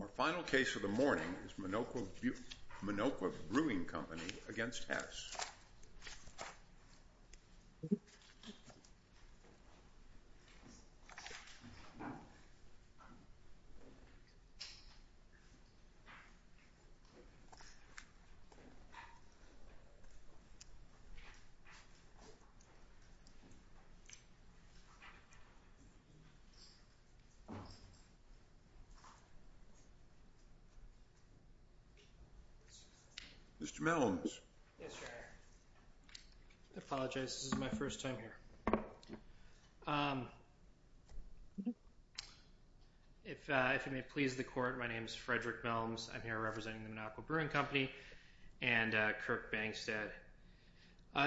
Our final case of the morning is Minocqua Brewing Company v. Hess.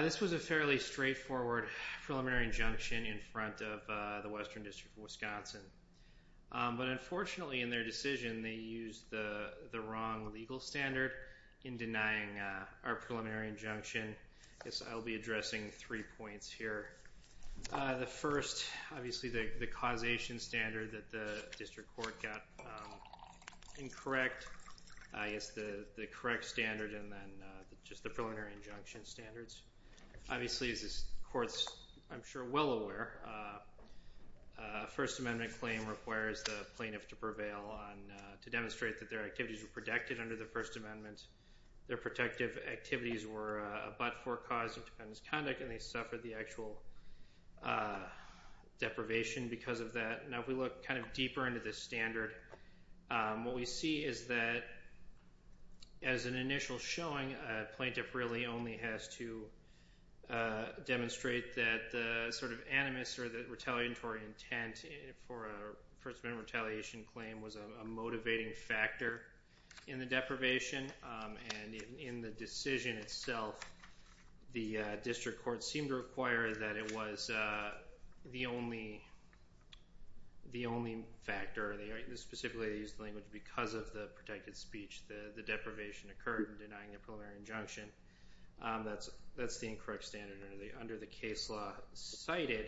This is a fairly straightforward preliminary injunction in front of the Western District of Wisconsin, but unfortunately in their decision they used the wrong legal standard in denying our preliminary injunction. I guess I'll be addressing three points here. The first, obviously the causation standard that the District Court got incorrect, I guess the correct standard and then just the preliminary injunction standards. Obviously, as this Court's, I'm sure, well aware, a First Amendment claim requires the plaintiff to prevail to demonstrate that their activities were protected under the First Amendment. Their protective activities were but for cause of dependent's conduct and they suffered the actual deprivation because of that. Now, if we look kind of deeper into this standard, what we see is that as an initial showing, a plaintiff really only has to demonstrate that the sort of animus or the retaliatory intent for a First Amendment retaliation claim was a motivating factor in the deprivation and in the decision itself, the District Court seemed to require that it was the only factor, specifically they used the language, because of the protected speech, the deprivation occurred in denying a preliminary injunction. That's the incorrect standard under the case law cited.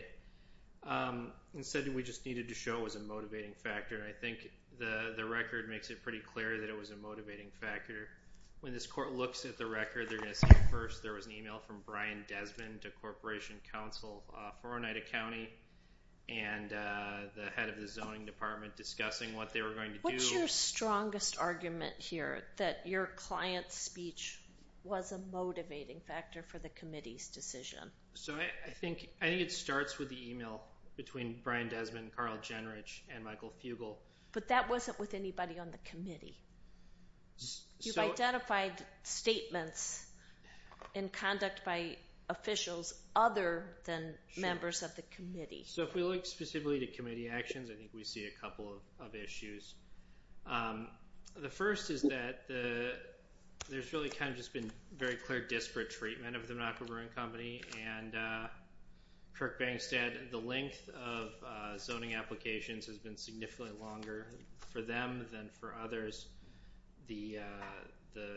Instead, we just needed to show it was a motivating factor. I think the record makes it pretty clear that it was a motivating factor. When this Court looks at the record, they're going to see first there was an email from Brian Desmond to Corporation Counsel for Oneida County and the head of the Zoning Department discussing what they were going to do. What's your strongest argument here that your client's speech was a motivating factor for the committee's decision? So I think it starts with the email between Brian Desmond, Carl Jenrich, and Michael Fugel. But that wasn't with anybody on the committee. You've identified statements in conduct by officials other than members of the committee. So if we look specifically to committee actions, I think we see a couple of issues. The first is that there's really kind of just been very clear disparate treatment of the Monaco Brewing Company and Kirk Bankstead. The length of zoning applications has been significantly longer for them than for others. The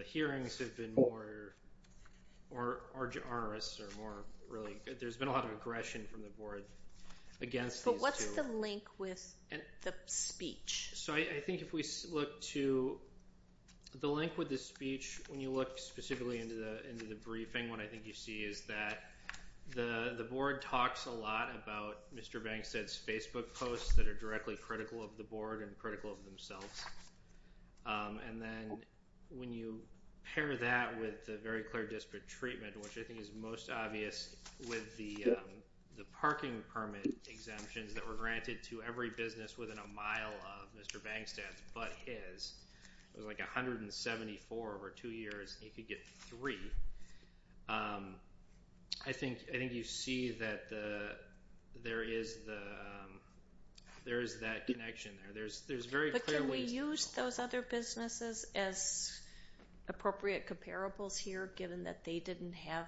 hearings have been more arduous. There's been a lot of aggression from the Board against these two. But what's the link with the speech? So I think if we look to the link with the speech, when you look specifically into the briefing, what I think you see is that the Board talks a lot about Mr. Bankstead's Facebook posts that are directly critical of the Board and critical of themselves. And then when you pair that with the very clear disparate treatment, which I think is most obvious with the parking permit exemptions that were granted to every business within a mile of Mr. Bankstead's but his, it was like 174 over two years, and he could get three. I think you see that there is that connection there. There's very clear ways... But can we use those other businesses as appropriate comparables here, given that they didn't have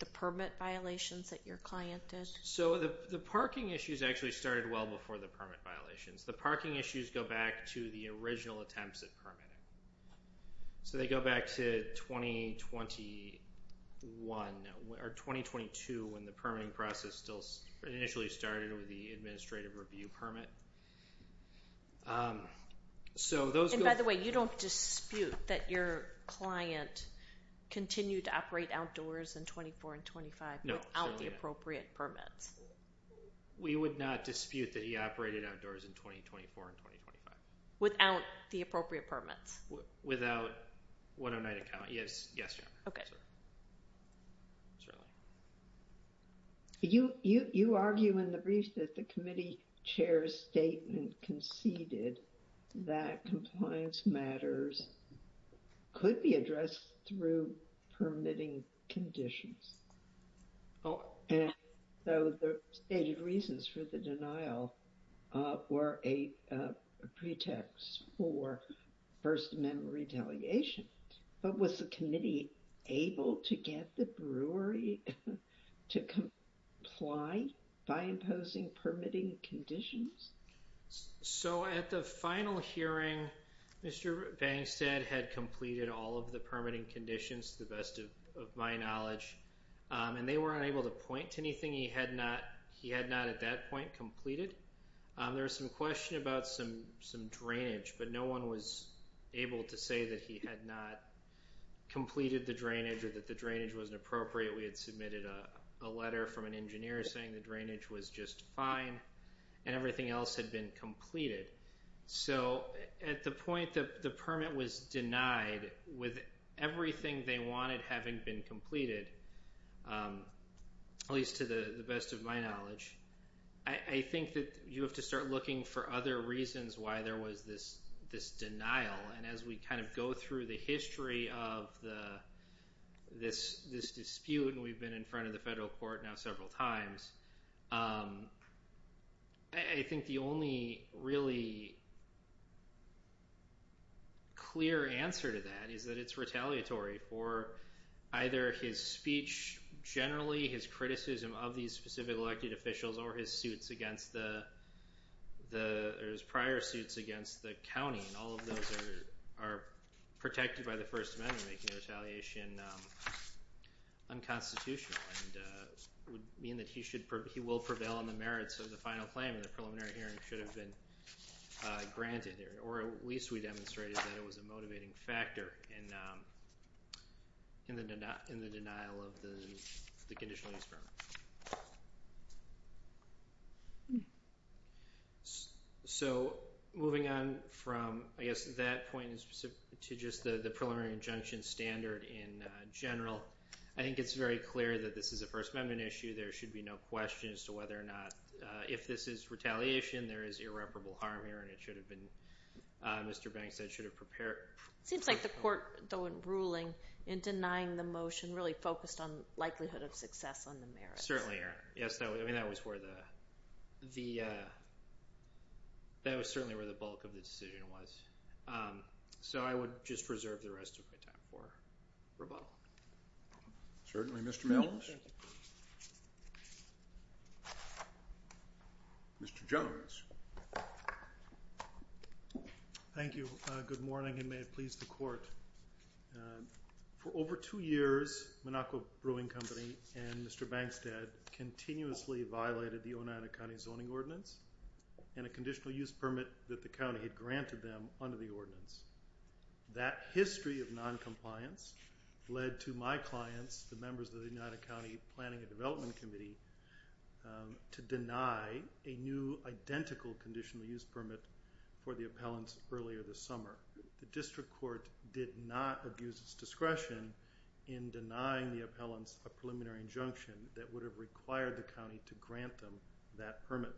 the permit violations that your client did? So the parking issues actually started well before the permit violations. The parking issues go back to the original attempts at permitting. So they go back to 2021, or 2022, when the permitting process still initially started with the administrative review permit. And by the way, you don't dispute that your client continued to operate outdoors in 24 and 25 without the appropriate permits? We would not dispute that he operated outdoors in 2024 and 2025. Without the appropriate permits? Without 109 account, yes, yes, ma'am. Okay. Sure. You, you, you argue in the brief that the committee chair's statement conceded that compliance matters could be addressed through permitting conditions. Oh, and so the stated reasons for the denial were a pretext for First Amendment retaliation. But was the committee able to get the brewery to comply by imposing permitting conditions? So at the final hearing, Mr. Bankstead had completed all of the permitting conditions, to the best of my knowledge, and they were unable to point to anything he had not, he had not at that point completed. There was some question about some, some drainage, but no one was able to say that he had not completed the drainage or that the drainage wasn't appropriate. We had submitted a letter from an engineer saying the drainage was just fine and everything else had been completed. So at the point that the permit was denied, with everything they wanted having been completed, at least to the best of my knowledge, I think that you have to start looking for other reasons why there was this, this denial, and as we kind of go through the history of the, this, this dispute, and we've been in front of the federal court now several times. I think the only really clear answer to that is that it's retaliatory for either his speech, generally his criticism of these specific elected officials or his suits against the, the, or his prior suits against the county, and all of those are, are protected by the He will prevail on the merits of the final claim and the preliminary hearing should have been granted there, or at least we demonstrated that it was a motivating factor in, in the denial, in the denial of the conditional use permit. So moving on from, I guess, that point in specific to just the, the preliminary injunction standard in general, I think it's very clear that this is a First Amendment issue. There should be no question as to whether or not, if this is retaliation, there is irreparable harm here, and it should have been, Mr. Banks said it should have prepared. It seems like the court, though, in ruling in denying the motion really focused on likelihood of success on the merits. Certainly, yes, that was, I mean, that was where the, the, that was certainly where the bulk of the decision was. So I would just reserve the rest of my time for rebuttal. Certainly, Mr. Mills. Mr. Jones. Thank you. Good morning, and may it please the court. For over two years, Monaco Brewing Company and Mr. Bankstead continuously violated the Oneida County Zoning Ordinance and a conditional use permit that the county had granted them under the ordinance. That history of noncompliance led to my clients, the members of the Oneida County Planning and Development Committee, to deny a new identical conditional use permit for the appellants earlier this summer. The district court did not abuse its discretion in denying the appellants a preliminary injunction that would have required the county to grant them that permit.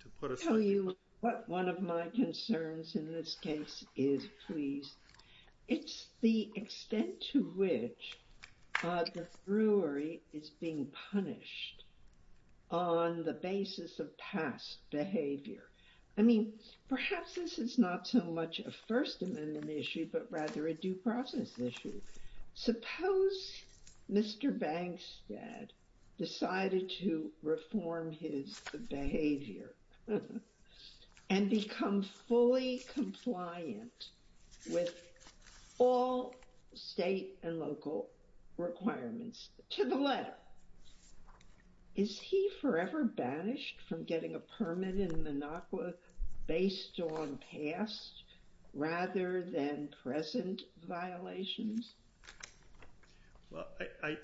To put a... I'll tell you what one of my concerns in this case is, please. It's the extent to which the brewery is being punished on the basis of past behavior. I mean, perhaps this is not so much a First Amendment issue, but rather a due process issue. Suppose Mr. Bankstead decided to reform his behavior and become fully compliant with all state and local requirements to the letter. Is he forever banished from getting a permit in Monaco based on past rather than present violations? Well,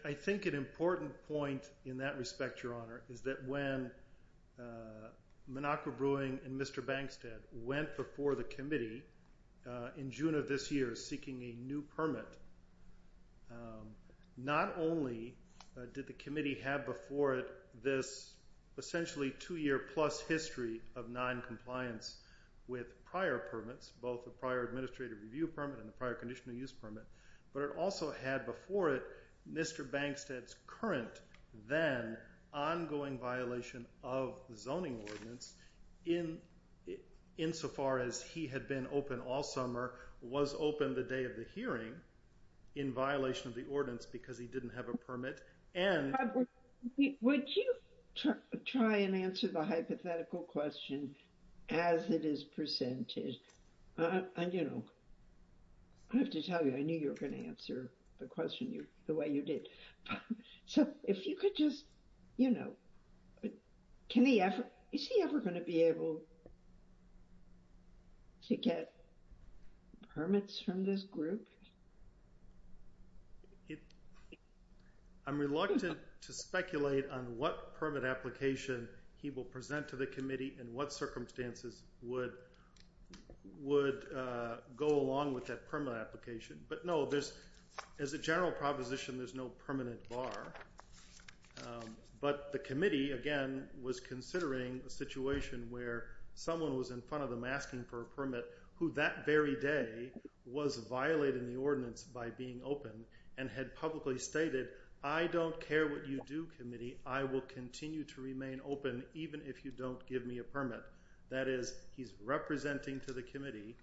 I think an important point in that respect, Your Honor, is that when Monaco Brewing and went before the committee in June of this year seeking a new permit, not only did the committee have before it this essentially two-year-plus history of noncompliance with prior permits, both the prior administrative review permit and the prior conditional use permit, but it also had before it Mr. Bankstead's current then ongoing violation of the zoning ordinance insofar as he had been open all summer, was open the day of the hearing in violation of the ordinance because he didn't have a permit, and... Robert, would you try and answer the hypothetical question as it is presented? And, you know, I have to tell you, I knew you were going to answer the question the way you did. So if you could just, you know, can he ever, is he ever going to be able to get permits from this group? I'm reluctant to speculate on what permit application he will present to the committee and what circumstances would go along with that permit application. But no, there's, as a general proposition, there's no permanent bar. But the committee, again, was considering a situation where someone was in front of them asking for a permit who that very day was violating the ordinance by being open and had publicly stated, I don't care what you do, committee, I will continue to remain open even if you don't give me a permit. That is, he's representing to the committee,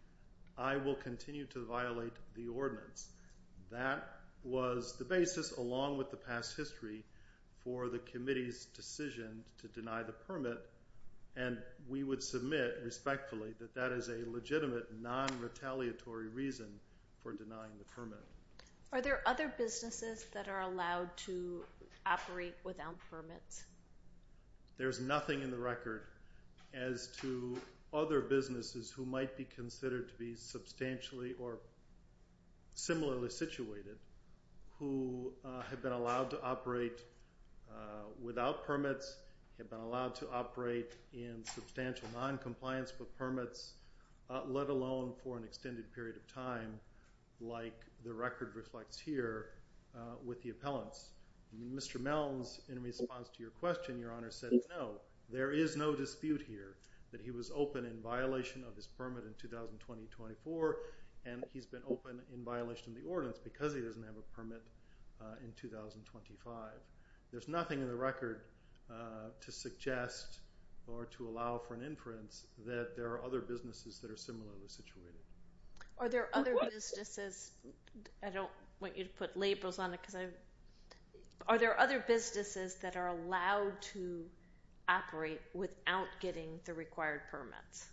I will continue to violate the ordinance. That was the basis along with the past history for the committee's decision to deny the permit. And we would submit respectfully that that is a legitimate non-retaliatory reason for denying the permit. Are there other businesses that are allowed to operate without permits? There's nothing in the record as to other businesses who might be considered to be substantially or similarly situated who have been allowed to operate without permits, have been allowed to operate in substantial non-compliance with permits, let alone for an extended period of time like the record reflects here with the appellants. Mr. Melms, in response to your question, Your Honor, said no. There is no dispute here that he was open in violation of his permit in 2020-24 and he's been open in violation of the ordinance because he doesn't have a permit in 2025. There's nothing in the record to suggest or to allow for an inference that there are other businesses that are similarly situated. Are there other businesses, I don't want you to put labels on it, are there other businesses that are allowed to operate without getting the required permits?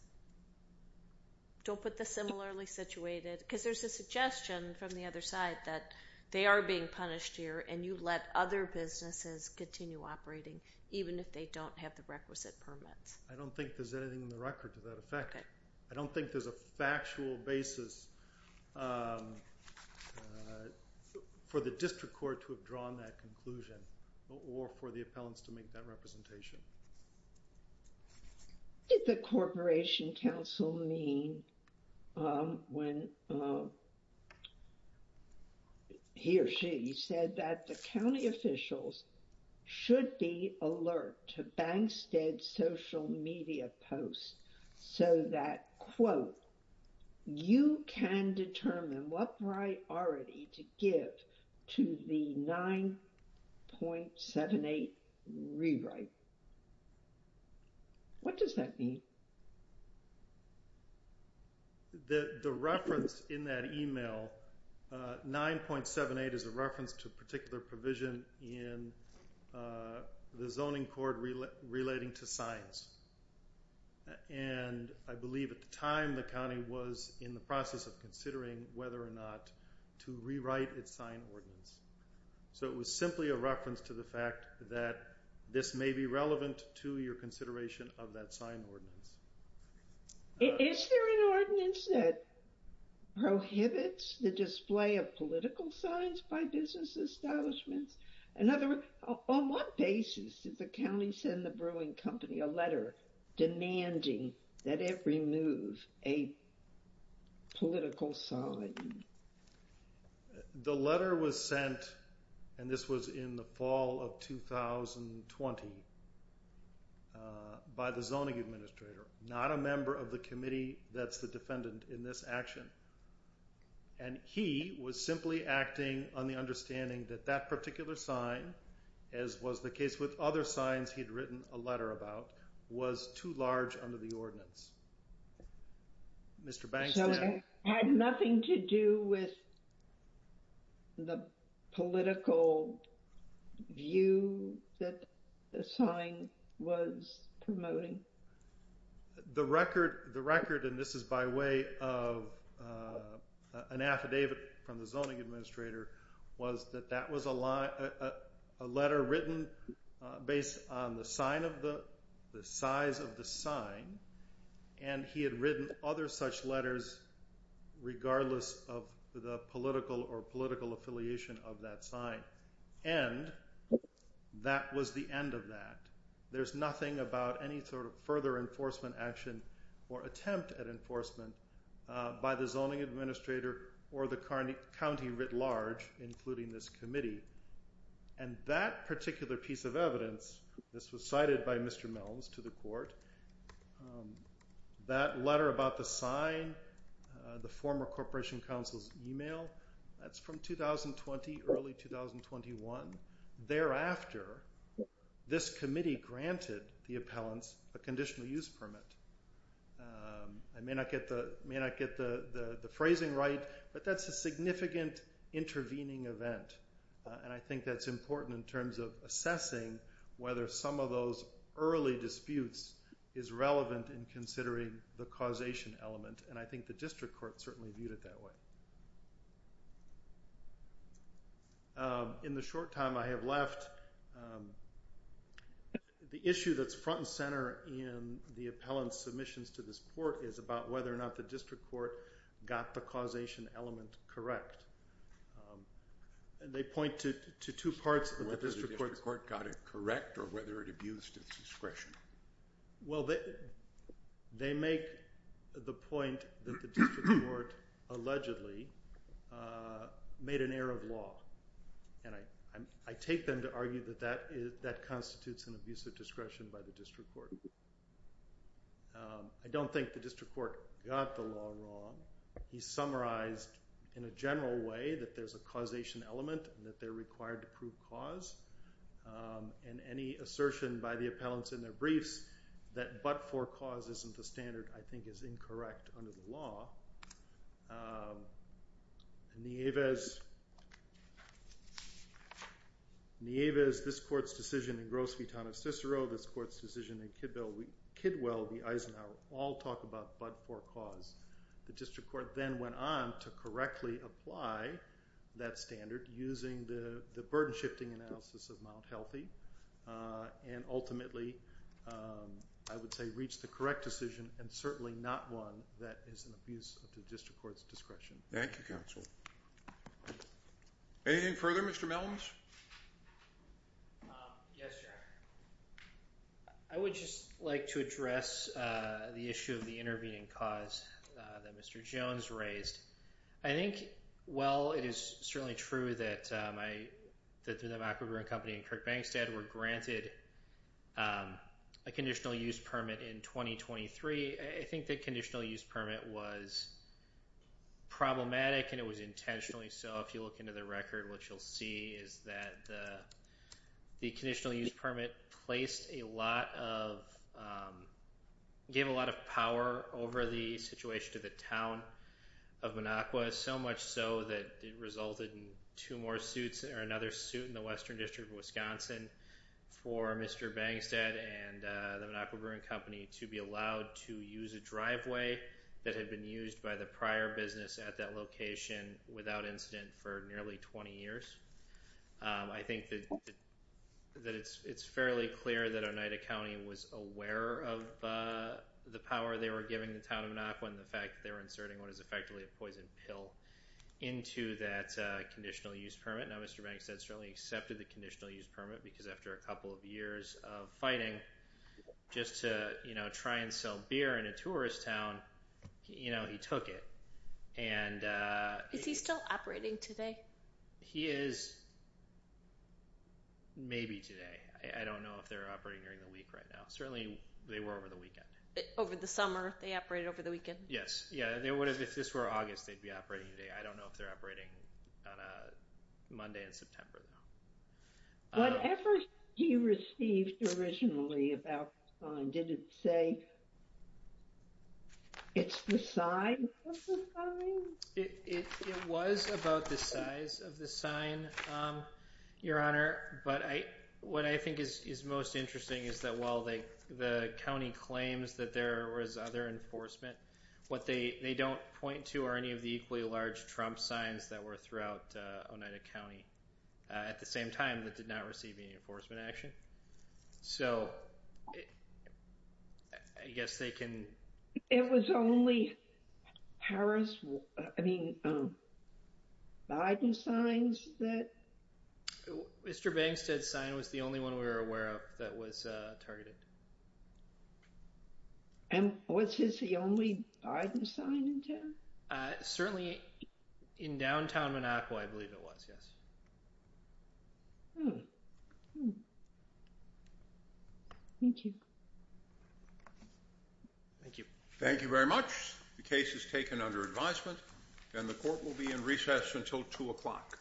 Don't put the similarly situated, because there's a suggestion from the other side that they are being punished here and you let other businesses continue operating even if they don't have the requisite permits. I don't think there's anything in the record to that effect. I don't think there's a factual basis for the district court to have drawn that conclusion or for the appellants to make that representation. Did the corporation counsel mean when he or she said that the county officials should be alert to Bankstead's social media posts so that, quote, you can determine what priority to give to the 9.78 rewrite? What does that mean? The reference in that email, 9.78 is a reference to a particular provision in the zoning court relating to signs, and I believe at the time the county was in the process of considering whether or not to rewrite its sign ordinance. So it was simply a reference to the fact that this may be relevant to your consideration of that sign ordinance. Is there an ordinance that prohibits the display of political signs by business establishments? In other words, on what basis did the county send the brewing company a letter demanding that it remove a political sign? The letter was sent, and this was in the fall of 2020, by the zoning administrator, not a member of the committee that's the defendant in this action. And he was simply acting on the understanding that that particular sign, as was the case with other signs he'd written a letter about, was too large under the ordinance. So it had nothing to do with the political view that the sign was promoting? The record, and this is by way of an affidavit from the zoning administrator, was that that was a letter written based on the size of the sign, and he had written other such letters regardless of the political or political affiliation of that sign. And that was the end of that. There's nothing about any sort of further enforcement action or attempt at enforcement by the zoning administrator or the county writ large, including this committee. And that particular piece of evidence, this was cited by Mr. Mills to the court, that letter about the sign, the former corporation counsel's email, that's from 2020, early 2021. Thereafter, this committee granted the appellants a conditional use permit. I may not get the phrasing right, but that's a significant intervening event. And I think that's important in terms of assessing whether some of those early disputes is relevant in considering the causation element. And I think the district court certainly viewed it that way. In the short time I have left, the issue that's front and center in the appellant's submissions to this court is about whether or not the district court got the causation element correct. And they point to two parts of the district court's- Whether the district court got it correct or whether it abused its discretion. Well, they make the point that the district court allegedly made an error of law. And I take them to argue that that constitutes an abuse of discretion by the district court. I don't think the district court got the law wrong. He summarized in a general way that there's a causation element and that they're required to prove cause. And any assertion by the appellants in their briefs that but-for cause isn't the standard, I think, is incorrect under the law. In the Avis, this court's decision in Gross v. Tano-Cicero, this court's decision in Kidwell v. Eisenhower all talk about but-for cause. The district court then went on to correctly apply that standard using the burden-shifting analysis of Mount Healthy and ultimately, I would say, reached the correct decision and certainly not one that is an abuse of the district court's discretion. Thank you, counsel. Anything further, Mr. Mellons? Yes, your honor. I would just like to address the issue of the intervening cause that Mr. Jones raised. I think, while it is certainly true that the McEvoy Brewing Company and Kirk Bankstead were granted a conditional use permit in 2023, I think the conditional use permit was problematic and it was intentionally so. If you look into the record, what you'll see is that the conditional use permit placed a lot of-gave a lot of power over the situation to the town of Minocqua, so much so that it resulted in two more suits or another suit in the Western District of Wisconsin for Mr. Bankstead and the Minocqua Brewing Company to be allowed to use a driveway that had been used by the prior business at that location without incident for nearly 20 years. I think that it's fairly clear that Oneida County was aware of the power they were giving the town of Minocqua and the fact that they were inserting what is effectively a poison pill into that conditional use permit. Now, Mr. Bankstead certainly accepted the conditional use permit because after a couple of years of fighting just to try and sell beer in a tourist town, he took it. Is he still operating today? He is maybe today. I don't know if they're operating during the week right now. Certainly, they were over the weekend. Over the summer, they operated over the weekend? Yes. Yeah, if this were August, they'd be operating today. I don't know if they're operating on a Monday in September. Whatever he received originally about the sign, did it say it's the size of the sign? It was about the size of the sign, Your Honor, but what I think is most interesting is that while the county claims that there was other enforcement, what they don't point to are any of the equally large Trump signs that were throughout Oneida County at the same time that did not receive any enforcement action. So, I guess they can... It was only Biden signs that... Mr. Bankstead's sign was the only one we were aware of that was targeted. And was his the only Biden sign in town? Certainly, in downtown Monaco, I believe it was, yes. Thank you. Thank you. Thank you very much. The case is taken under advisement, and the court will be in recess until 2 o'clock.